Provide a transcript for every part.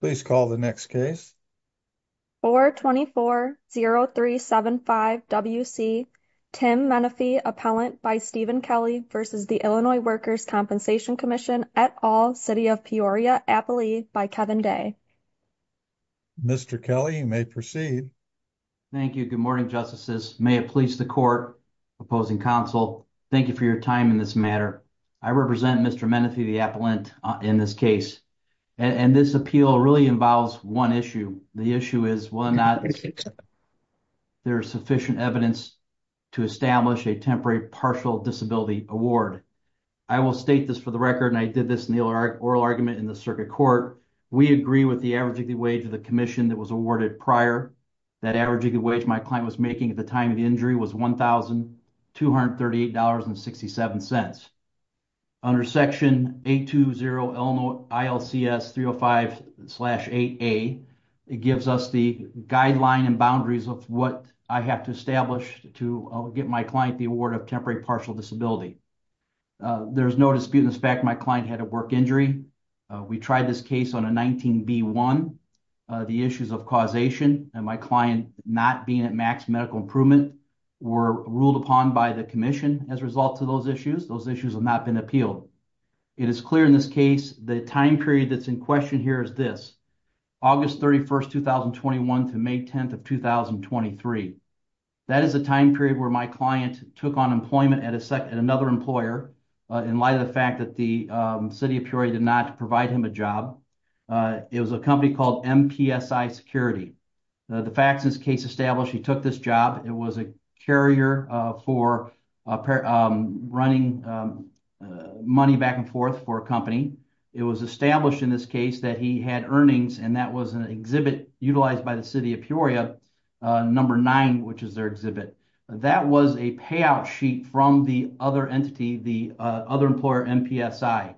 Please call the next case. 424-0375-WC Tim Menefee Appellant by Stephen Kelly v. Illinois Workers' Compensation Comm'n at All, City of Peoria, Appalachia by Kevin Day. Mr. Kelly, you may proceed. Thank you. Good morning, Justices. May it please the Court, Opposing Counsel, thank you for your time in this matter. I represent Mr. Menefee the Appellant in this case, and this appeal really involves one issue. The issue is whether or not there is sufficient evidence to establish a temporary partial disability award. I will state this for the record, and I did this in the oral argument in the circuit court. We agree with the average wage of the commission that was awarded prior. That average wage my was making at the time of the injury was $1,238.67. Under Section 820 Illinois ILCS 305-8A, it gives us the guideline and boundaries of what I have to establish to get my client the award of temporary partial disability. There is no dispute in the fact that my client had a work injury. We tried this case on a 19B1. The issues of causation and my client not being at max medical improvement were ruled upon by the commission as a result of those issues. Those issues have not been appealed. It is clear in this case the time period that is in question here is this, August 31, 2021 to May 10, 2023. That is the time period where my client took employment at another employer in light of the fact that the City of Peoria did not provide him a job. It was a company called MPSI Security. The facts in this case establish he took this job. It was a carrier for running money back and forth for a company. It was established in this case that he had earnings, and that was an exhibit utilized by the City of Peoria, number 9, which is their That was a payout sheet from the other employer, MPSI.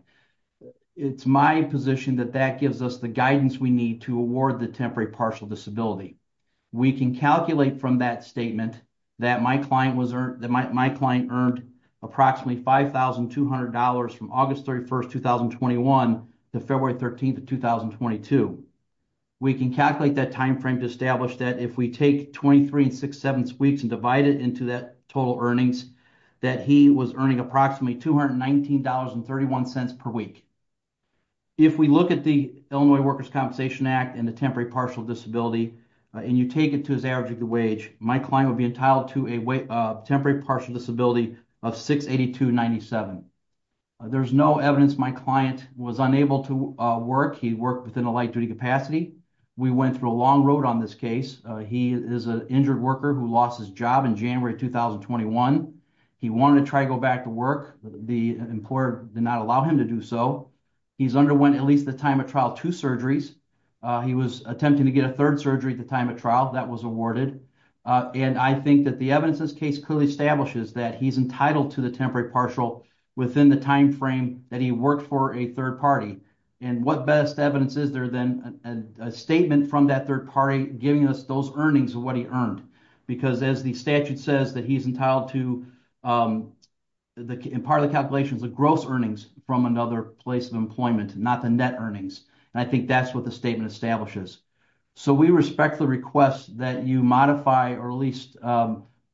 It is my position that that gives us the guidance we need to award the temporary partial disability. We can calculate from that statement that my client earned approximately $5,200 from August 31, 2021 to February 13, 2022. We can calculate that time frame to establish that if we take 23 and six-sevenths weeks and divide it into that total earnings, that he was earning approximately $219.31 per week. If we look at the Illinois Workers' Compensation Act and the temporary partial disability, and you take it to his average of the wage, my client would be entitled to a temporary partial disability of $682.97. There is no evidence my client was unable to work. He We went through a long road on this case. He is an injured worker who lost his job in January 2021. He wanted to try to go back to work. The employer did not allow him to do so. He's underwent at least the time of trial two surgeries. He was attempting to get a third surgery at the time of trial. That was awarded. I think that the evidence in this case clearly establishes that he's entitled to the temporary partial within the time frame that he worked for a third party. What best evidence is there than a statement from that third party giving us those earnings of what he earned? Because as the statute says that he's entitled to, in part of the calculations, the gross earnings from another place of employment, not the net earnings. I think that's what the statement establishes. We respect the request that you modify or at least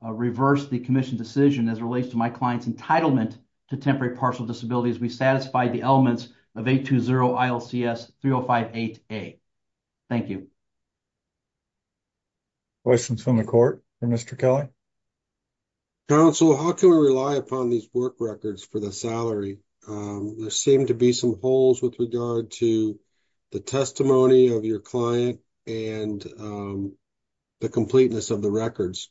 reverse the commission decision as it relates to my client's entitlement to temporary partial disabilities. We satisfied the elements of 820 ILCS 3058A. Thank you. Questions from the court for Mr. Kelly? Counsel, how can we rely upon these work records for the salary? There seem to be some holes with regard to the testimony of your client and the completeness of the records.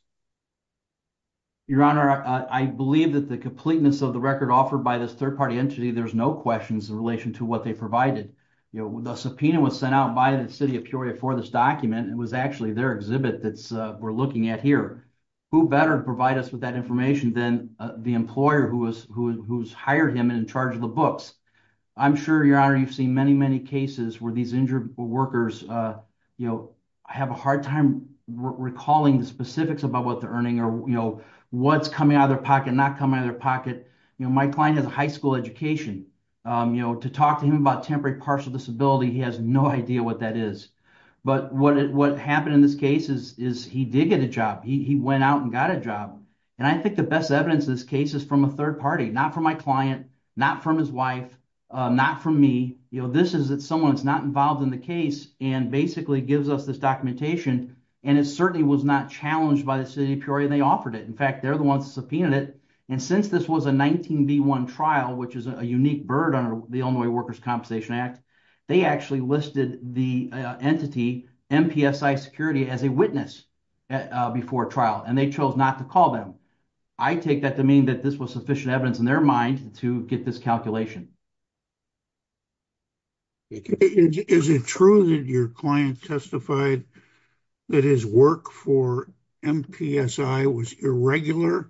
Your Honor, I believe that the completeness of the record offered by this third party entity, there's no questions in relation to what they provided. The subpoena was sent out by the city of Peoria for this document. It was actually their exhibit that we're looking at here. Who better to provide us with that information than the employer who's hired him and in charge of the books? I'm sure, Your Honor, you've seen many, many cases where these injured workers have a lot to say about what they're earning or what's coming out of their pocket, not coming out of their pocket. My client has a high school education. To talk to him about temporary partial disability, he has no idea what that is. But what happened in this case is he did get a job. He went out and got a job. I think the best evidence of this case is from a third party, not from my client, not from his wife, not from me. This is someone who's not involved in the case and basically gives us this documentation. It certainly was not challenged by the city of Peoria. They offered it. In fact, they're the ones who subpoenaed it. Since this was a 19B1 trial, which is a unique bird under the Illinois Workers' Compensation Act, they actually listed the entity, MPSI Security, as a witness before trial. They chose not to call them. I take that to mean that this was sufficient evidence in their mind to get this calculation. Is it true that your client testified that his work for MPSI was irregular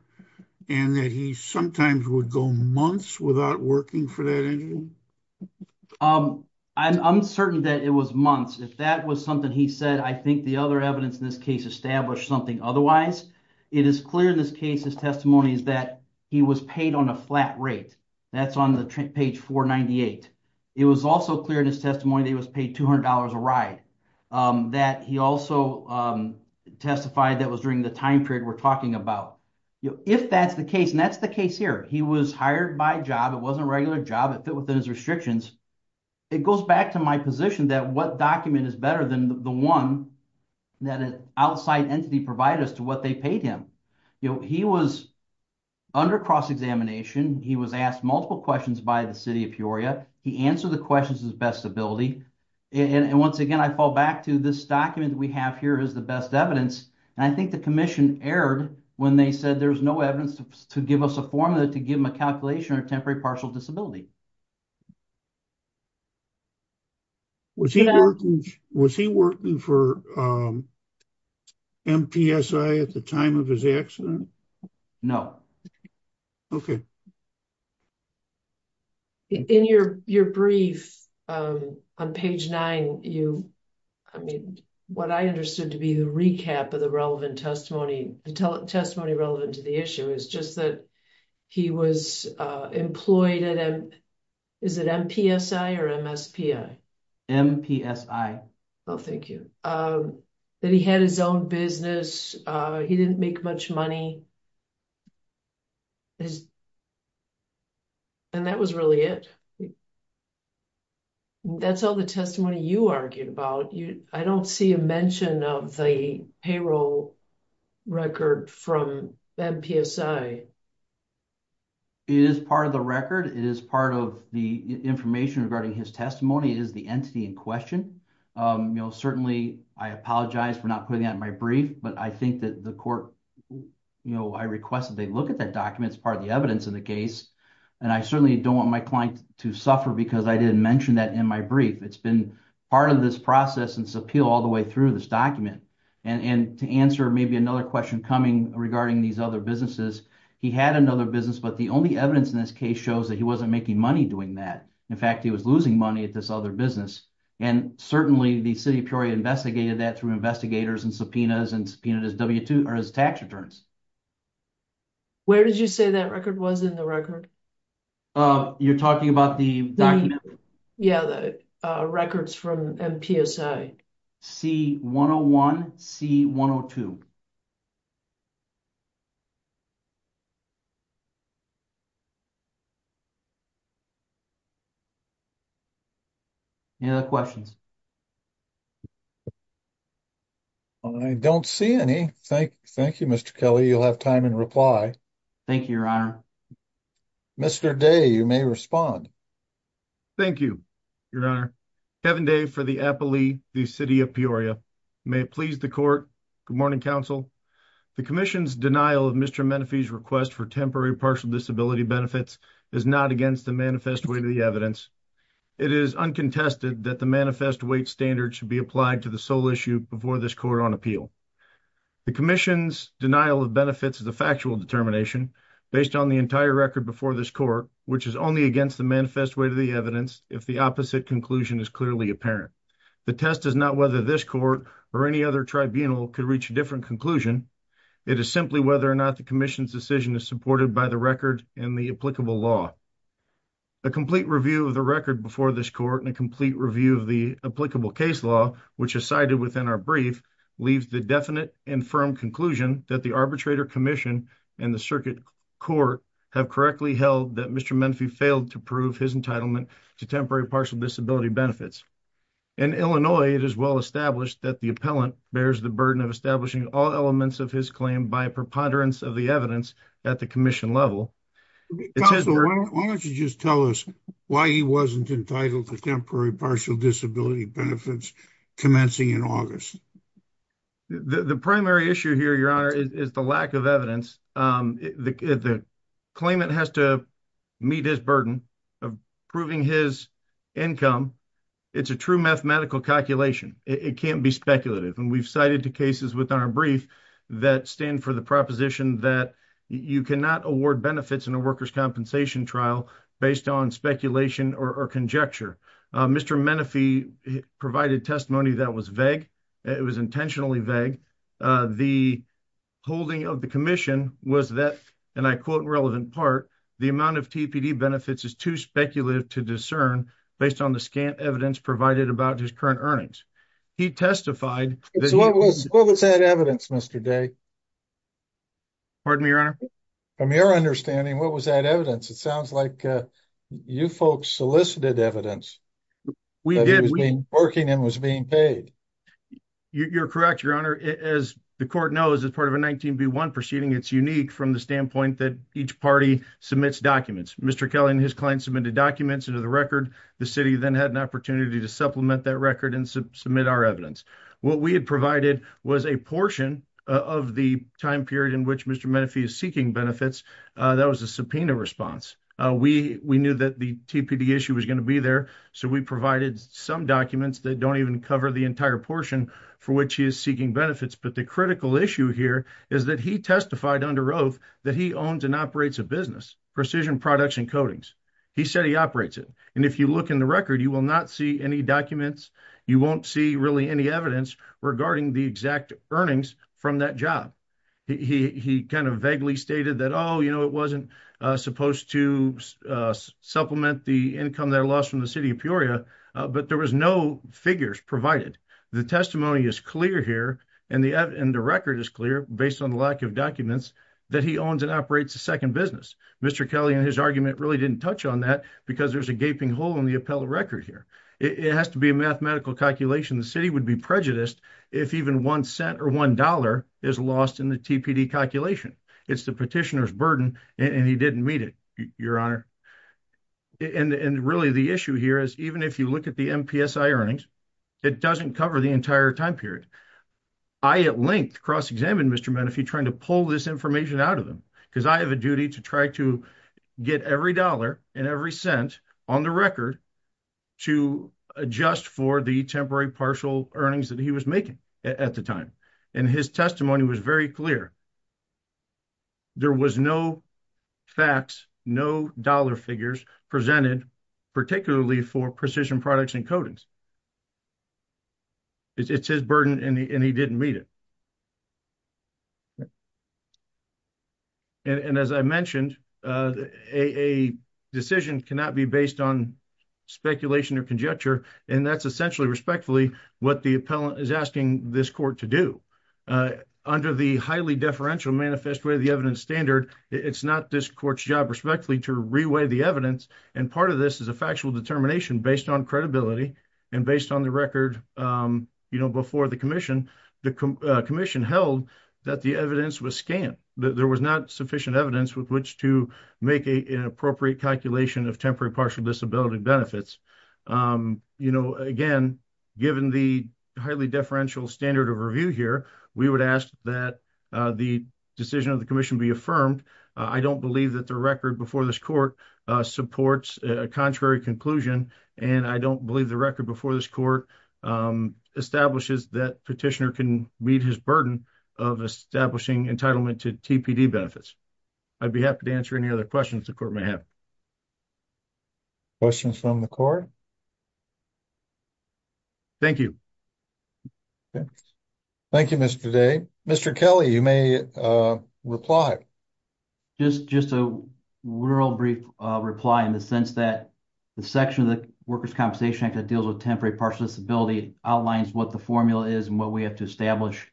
and that he sometimes would go months without working for that entity? I'm certain that it was months. If that was something he said, I think the other evidence in this case established something otherwise. It is clear in this case, his testimony is that he was paid on a flat rate. That's on page 498. It was also clear in his testimony that he was paid $200 a ride. He also testified that was during the time period we're talking about. If that's the case, and that's the case here, he was hired by job. It wasn't a regular job. It fit within his restrictions. It goes back to my position that what document is better than the one that an outside entity provided us to what they paid him? He was under cross-examination. He was asked multiple questions by the city of Peoria. He answered the questions with his best ability. Once again, I fall back to this document we have here is the best evidence. I think the commission erred when they said there was no evidence to give us a formula to give him a formula. Is it important for MPSI at the time of his accident? No. Okay. In your brief on page 9, what I understood to be the recap of the relevant testimony, the testimony relevant to the issue, is just that he was employed at MPSI or MSPI? MPSI. Oh, thank you. That he had his own business. He didn't make much money. And that was really it. That's all the testimony you argued about. I don't see a mention of the payroll record from MPSI. It is part of the record. It is part of the information regarding his testimony. It is the entity in question. Certainly, I apologize for not putting that in my brief, but I think that the court, I request that they look at that document as part of the evidence in the case. And I certainly don't want my client to suffer because I didn't mention that in my brief. It's been part of this process and appeal all the way through this document. And to answer maybe another question coming regarding these other businesses, he had another business, but the only evidence in this case shows that he wasn't making money doing that. In fact, he was losing money at this other business. And certainly, the city of Peoria investigated that through investigators and subpoenas and subpoenaed his tax returns. Where did you say that record was in the record? You're talking about the document? Yeah, the records from MPSI. C-101, C-102. Any other questions? I don't see any. Thank you, Mr. Kelly. You'll have time in reply. Thank you, Your Honor. Mr. Day, you may respond. Thank you, Your Honor. Kevin Day for the Appellee, the city of Peoria. May it please the court. Good morning, counsel. The commission's denial of Mr. Menefee's request for temporary partial disability benefits is not against the manifest weight of the evidence. It is uncontested that the manifest weight standard should be applied to the sole issue before this court on appeal. The commission's denial of benefits is a factual determination based on the entire record before this court, which is only against the manifest weight of the evidence if the opposite conclusion is clearly apparent. The test is not whether this court or any other tribunal could reach a different conclusion. It is simply whether or not the commission's decision is supported by the record and the applicable law. A complete review of the record before this court and a complete review of the applicable case law, which is cited within our brief, leaves the definite and firm conclusion that the arbitrator commission and the circuit court have correctly held that Mr. Menefee failed to prove his entitlement to temporary partial disability benefits. In Illinois, it is well established that the appellant bears the burden of establishing all elements of his claim by preponderance of the evidence at the commission level. Why don't you just tell us why he wasn't entitled to temporary partial disability benefits commencing in August? The primary issue here, your honor, is the lack of evidence. The claimant has to meet his burden of proving his income. It's a true mathematical calculation. It can't be speculative. And we've cited two cases within our brief that stand for the proposition that you cannot award benefits in a workers' compensation trial based on speculation or conjecture. Mr. Menefee provided testimony that was vague. It was intentionally vague. The holding of the commission was that, and I quote relevant part, the amount of TPD benefits is too speculative to discern based on the scant evidence provided about his current earnings. He testified... So what was that evidence, Mr. Day? Pardon me, your honor? From your understanding, what was that evidence? It sounds like you folks solicited evidence that he was working and was being paid. You're correct, your honor. As the court knows, as part of a 19B1 proceeding, it's unique from the standpoint that each party submits documents. Mr. Kelly and his client submitted documents into the record. The city then had an opportunity to supplement that record and submit our evidence. What we had provided was a portion of the time period in which Mr. Menefee is seeking benefits. That was a subpoena response. We knew that the TPD issue was going to be there, so we provided some documents that don't even cover the entire portion for which he is seeking benefits. But the critical issue here is that he testified under oath that he owns and operates a precision products and coatings. He said he operates it. And if you look in the record, you will not see any documents. You won't see really any evidence regarding the exact earnings from that job. He kind of vaguely stated that, oh, you know, it wasn't supposed to supplement the income that lost from the city of Peoria, but there was no figures provided. The testimony is clear here, and the record is clear based on the lack of documents, that he owns and operates a second business. Mr. Kelly and his argument really didn't touch on that because there's a gaping hole in the appellate record here. It has to be a mathematical calculation. The city would be prejudiced if even one cent or one dollar is lost in the TPD calculation. It's the petitioner's burden, and he didn't meet it, Your Honor. And really, the issue here is even if you look at the MPSI earnings, it doesn't cover the entire time period. I, at length, cross-examined Mr. Menefee trying to pull this information out of him, because I have a duty to try to get every dollar and every cent on the record to adjust for the temporary partial earnings that he was making at the time. And his testimony was very clear. There was no facts, no dollar figures presented, particularly for precision products and codings. It's his burden, and he didn't meet it. And as I mentioned, a decision cannot be based on speculation or conjecture, and that's essentially, respectfully, what the appellant is asking this court to do. Under the highly deferential manifest way of the evidence standard, it's not this court's job, respectfully, to re-weigh the evidence. And part of this factual determination, based on credibility and based on the record before the commission, the commission held that the evidence was scant, that there was not sufficient evidence with which to make an appropriate calculation of temporary partial disability benefits. Again, given the highly deferential standard of review here, we would ask that the decision of the commission be affirmed. I don't believe that the record before this court supports a contrary conclusion, and I don't believe the record before this court establishes that petitioner can meet his burden of establishing entitlement to TPD benefits. I'd be happy to answer any other questions the court may have. Questions from the court? Thank you. Thank you, Mr. Day. Mr. Kelly, you may reply. Just a real brief reply in the sense that the section of the Workers' Compensation Act that deals with temporary partial disability outlines what the formula is and what we have to establish.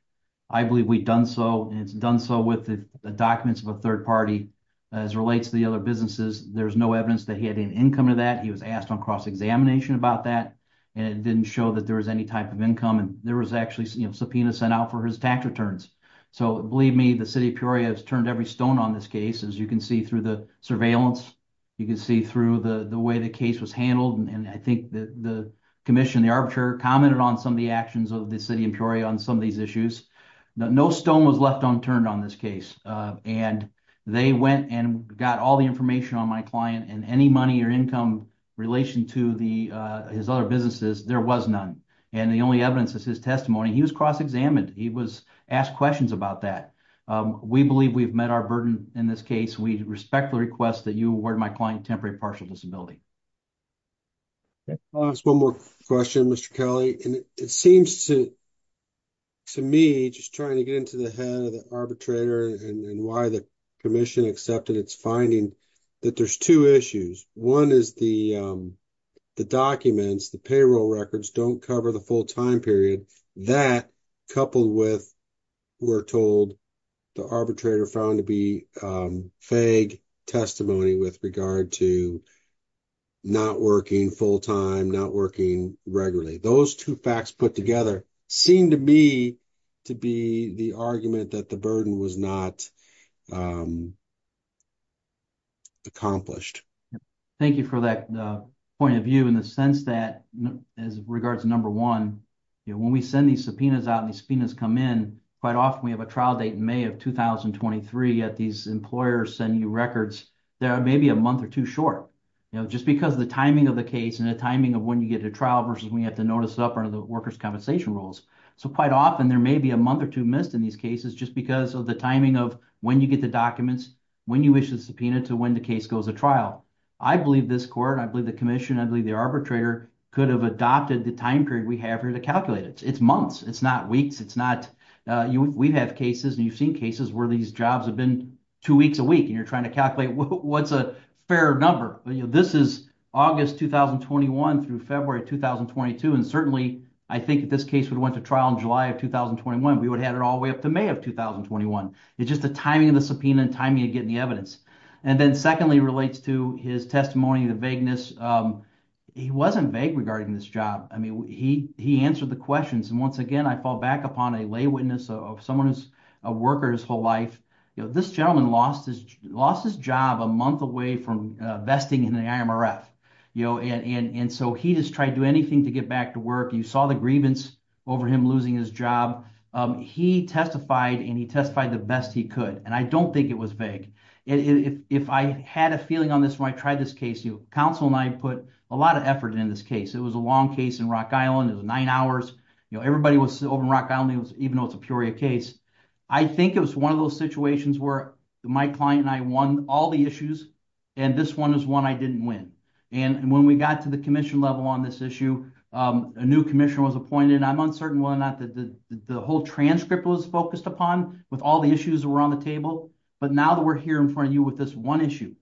I believe we've done so, and it's done so with the documents of a third party as relates to the other businesses. There's no evidence that he had an income to that. He was asked on cross-examination about that, and it didn't show that there was any type of income, and there was actually subpoenas sent out for his tax returns. So, believe me, the City of Peoria has turned every stone on this case, as you can see through the surveillance. You can see through the way the case was handled, and I think that the commission, the arbitrator, commented on some of the actions of the City of Peoria on some of these issues. No stone was left unturned on this case, and they went and got all the information on my client, and any money or income relation to his other businesses, there was none, and the only evidence is his testimony. He was cross-examined. He was asked questions about that. We believe we've met our burden in this case. We respect the request that you award my client temporary partial disability. Just one more question, Mr. Kelly, and it seems to me, just trying to get into the head of the arbitrator and why the commission accepted its finding, that there's two issues. One is the documents, the payroll records, don't cover the full-time period. That, coupled with, we're told, the arbitrator found to be vague testimony with regard to not working full-time, not working regularly. Those two facts put together seem to be the argument that the burden was not accomplished. Thank you for that point of view in the sense that, as regards to number one, when we send these subpoenas out and these subpoenas come in, quite often we have a trial date in May of 2023, yet these employers send you records that are maybe a month or two short, just because of the timing of the case and the timing of when you get to trial versus when you have to notice it up under workers' compensation rules. So, quite often, there may be a month or two missed in these cases just because of the timing of when you get the documents, when you issue the subpoena, to when the case goes to trial. I believe this court, I believe the commission, I believe the arbitrator could have adopted the time period we have here to calculate it. It's months, it's not weeks, it's not, we have cases and you've seen cases where these jobs have been two weeks a week and you're trying to calculate what's a fair number. This is August 2021 through February 2022 and I think if this case went to trial in July of 2021, we would have it all the way up to May of 2021. It's just the timing of the subpoena and timing of getting the evidence. And then secondly, it relates to his testimony, the vagueness. He wasn't vague regarding this job. I mean, he answered the questions and once again, I fall back upon a lay witness of someone who's a worker his whole life. This gentleman lost his job a month away from vesting in the IMRF and so he just tried to do anything to get back to work. You saw the grievance over him losing his job. He testified and he testified the best he could and I don't think it was vague. If I had a feeling on this when I tried this case, counsel and I put a lot of effort in this case. It was a long case in Rock Island, it was nine hours. Everybody was over in Rock Island even though it's a Peoria case. I think it was one of those situations where my client and I won all the issues and this one is one I didn't win. And when we got to the commission level on this issue, a new commissioner was appointed. I'm uncertain whether or not the whole transcript was focused upon with all the issues that were on the table, but now that we're here in front of you with this one issue,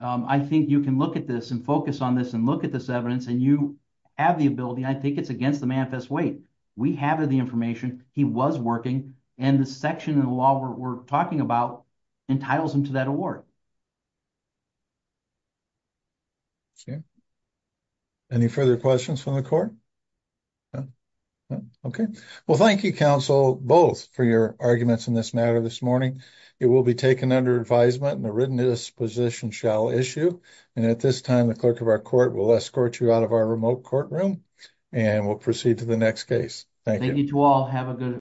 I think you can look at this and focus on this and look at this evidence and you have the ability. I think it's against the manifest weight. We have the information, he was working and the section of the law we're talking about entitles him to that award. Okay, any further questions from the court? Okay, well thank you counsel both for your arguments in this matter this morning. It will be taken under advisement and a written disposition shall issue and at this time the clerk of our court will escort you out of our remote courtroom and we'll proceed to the next case. Thank you. Thank you to all, have a good.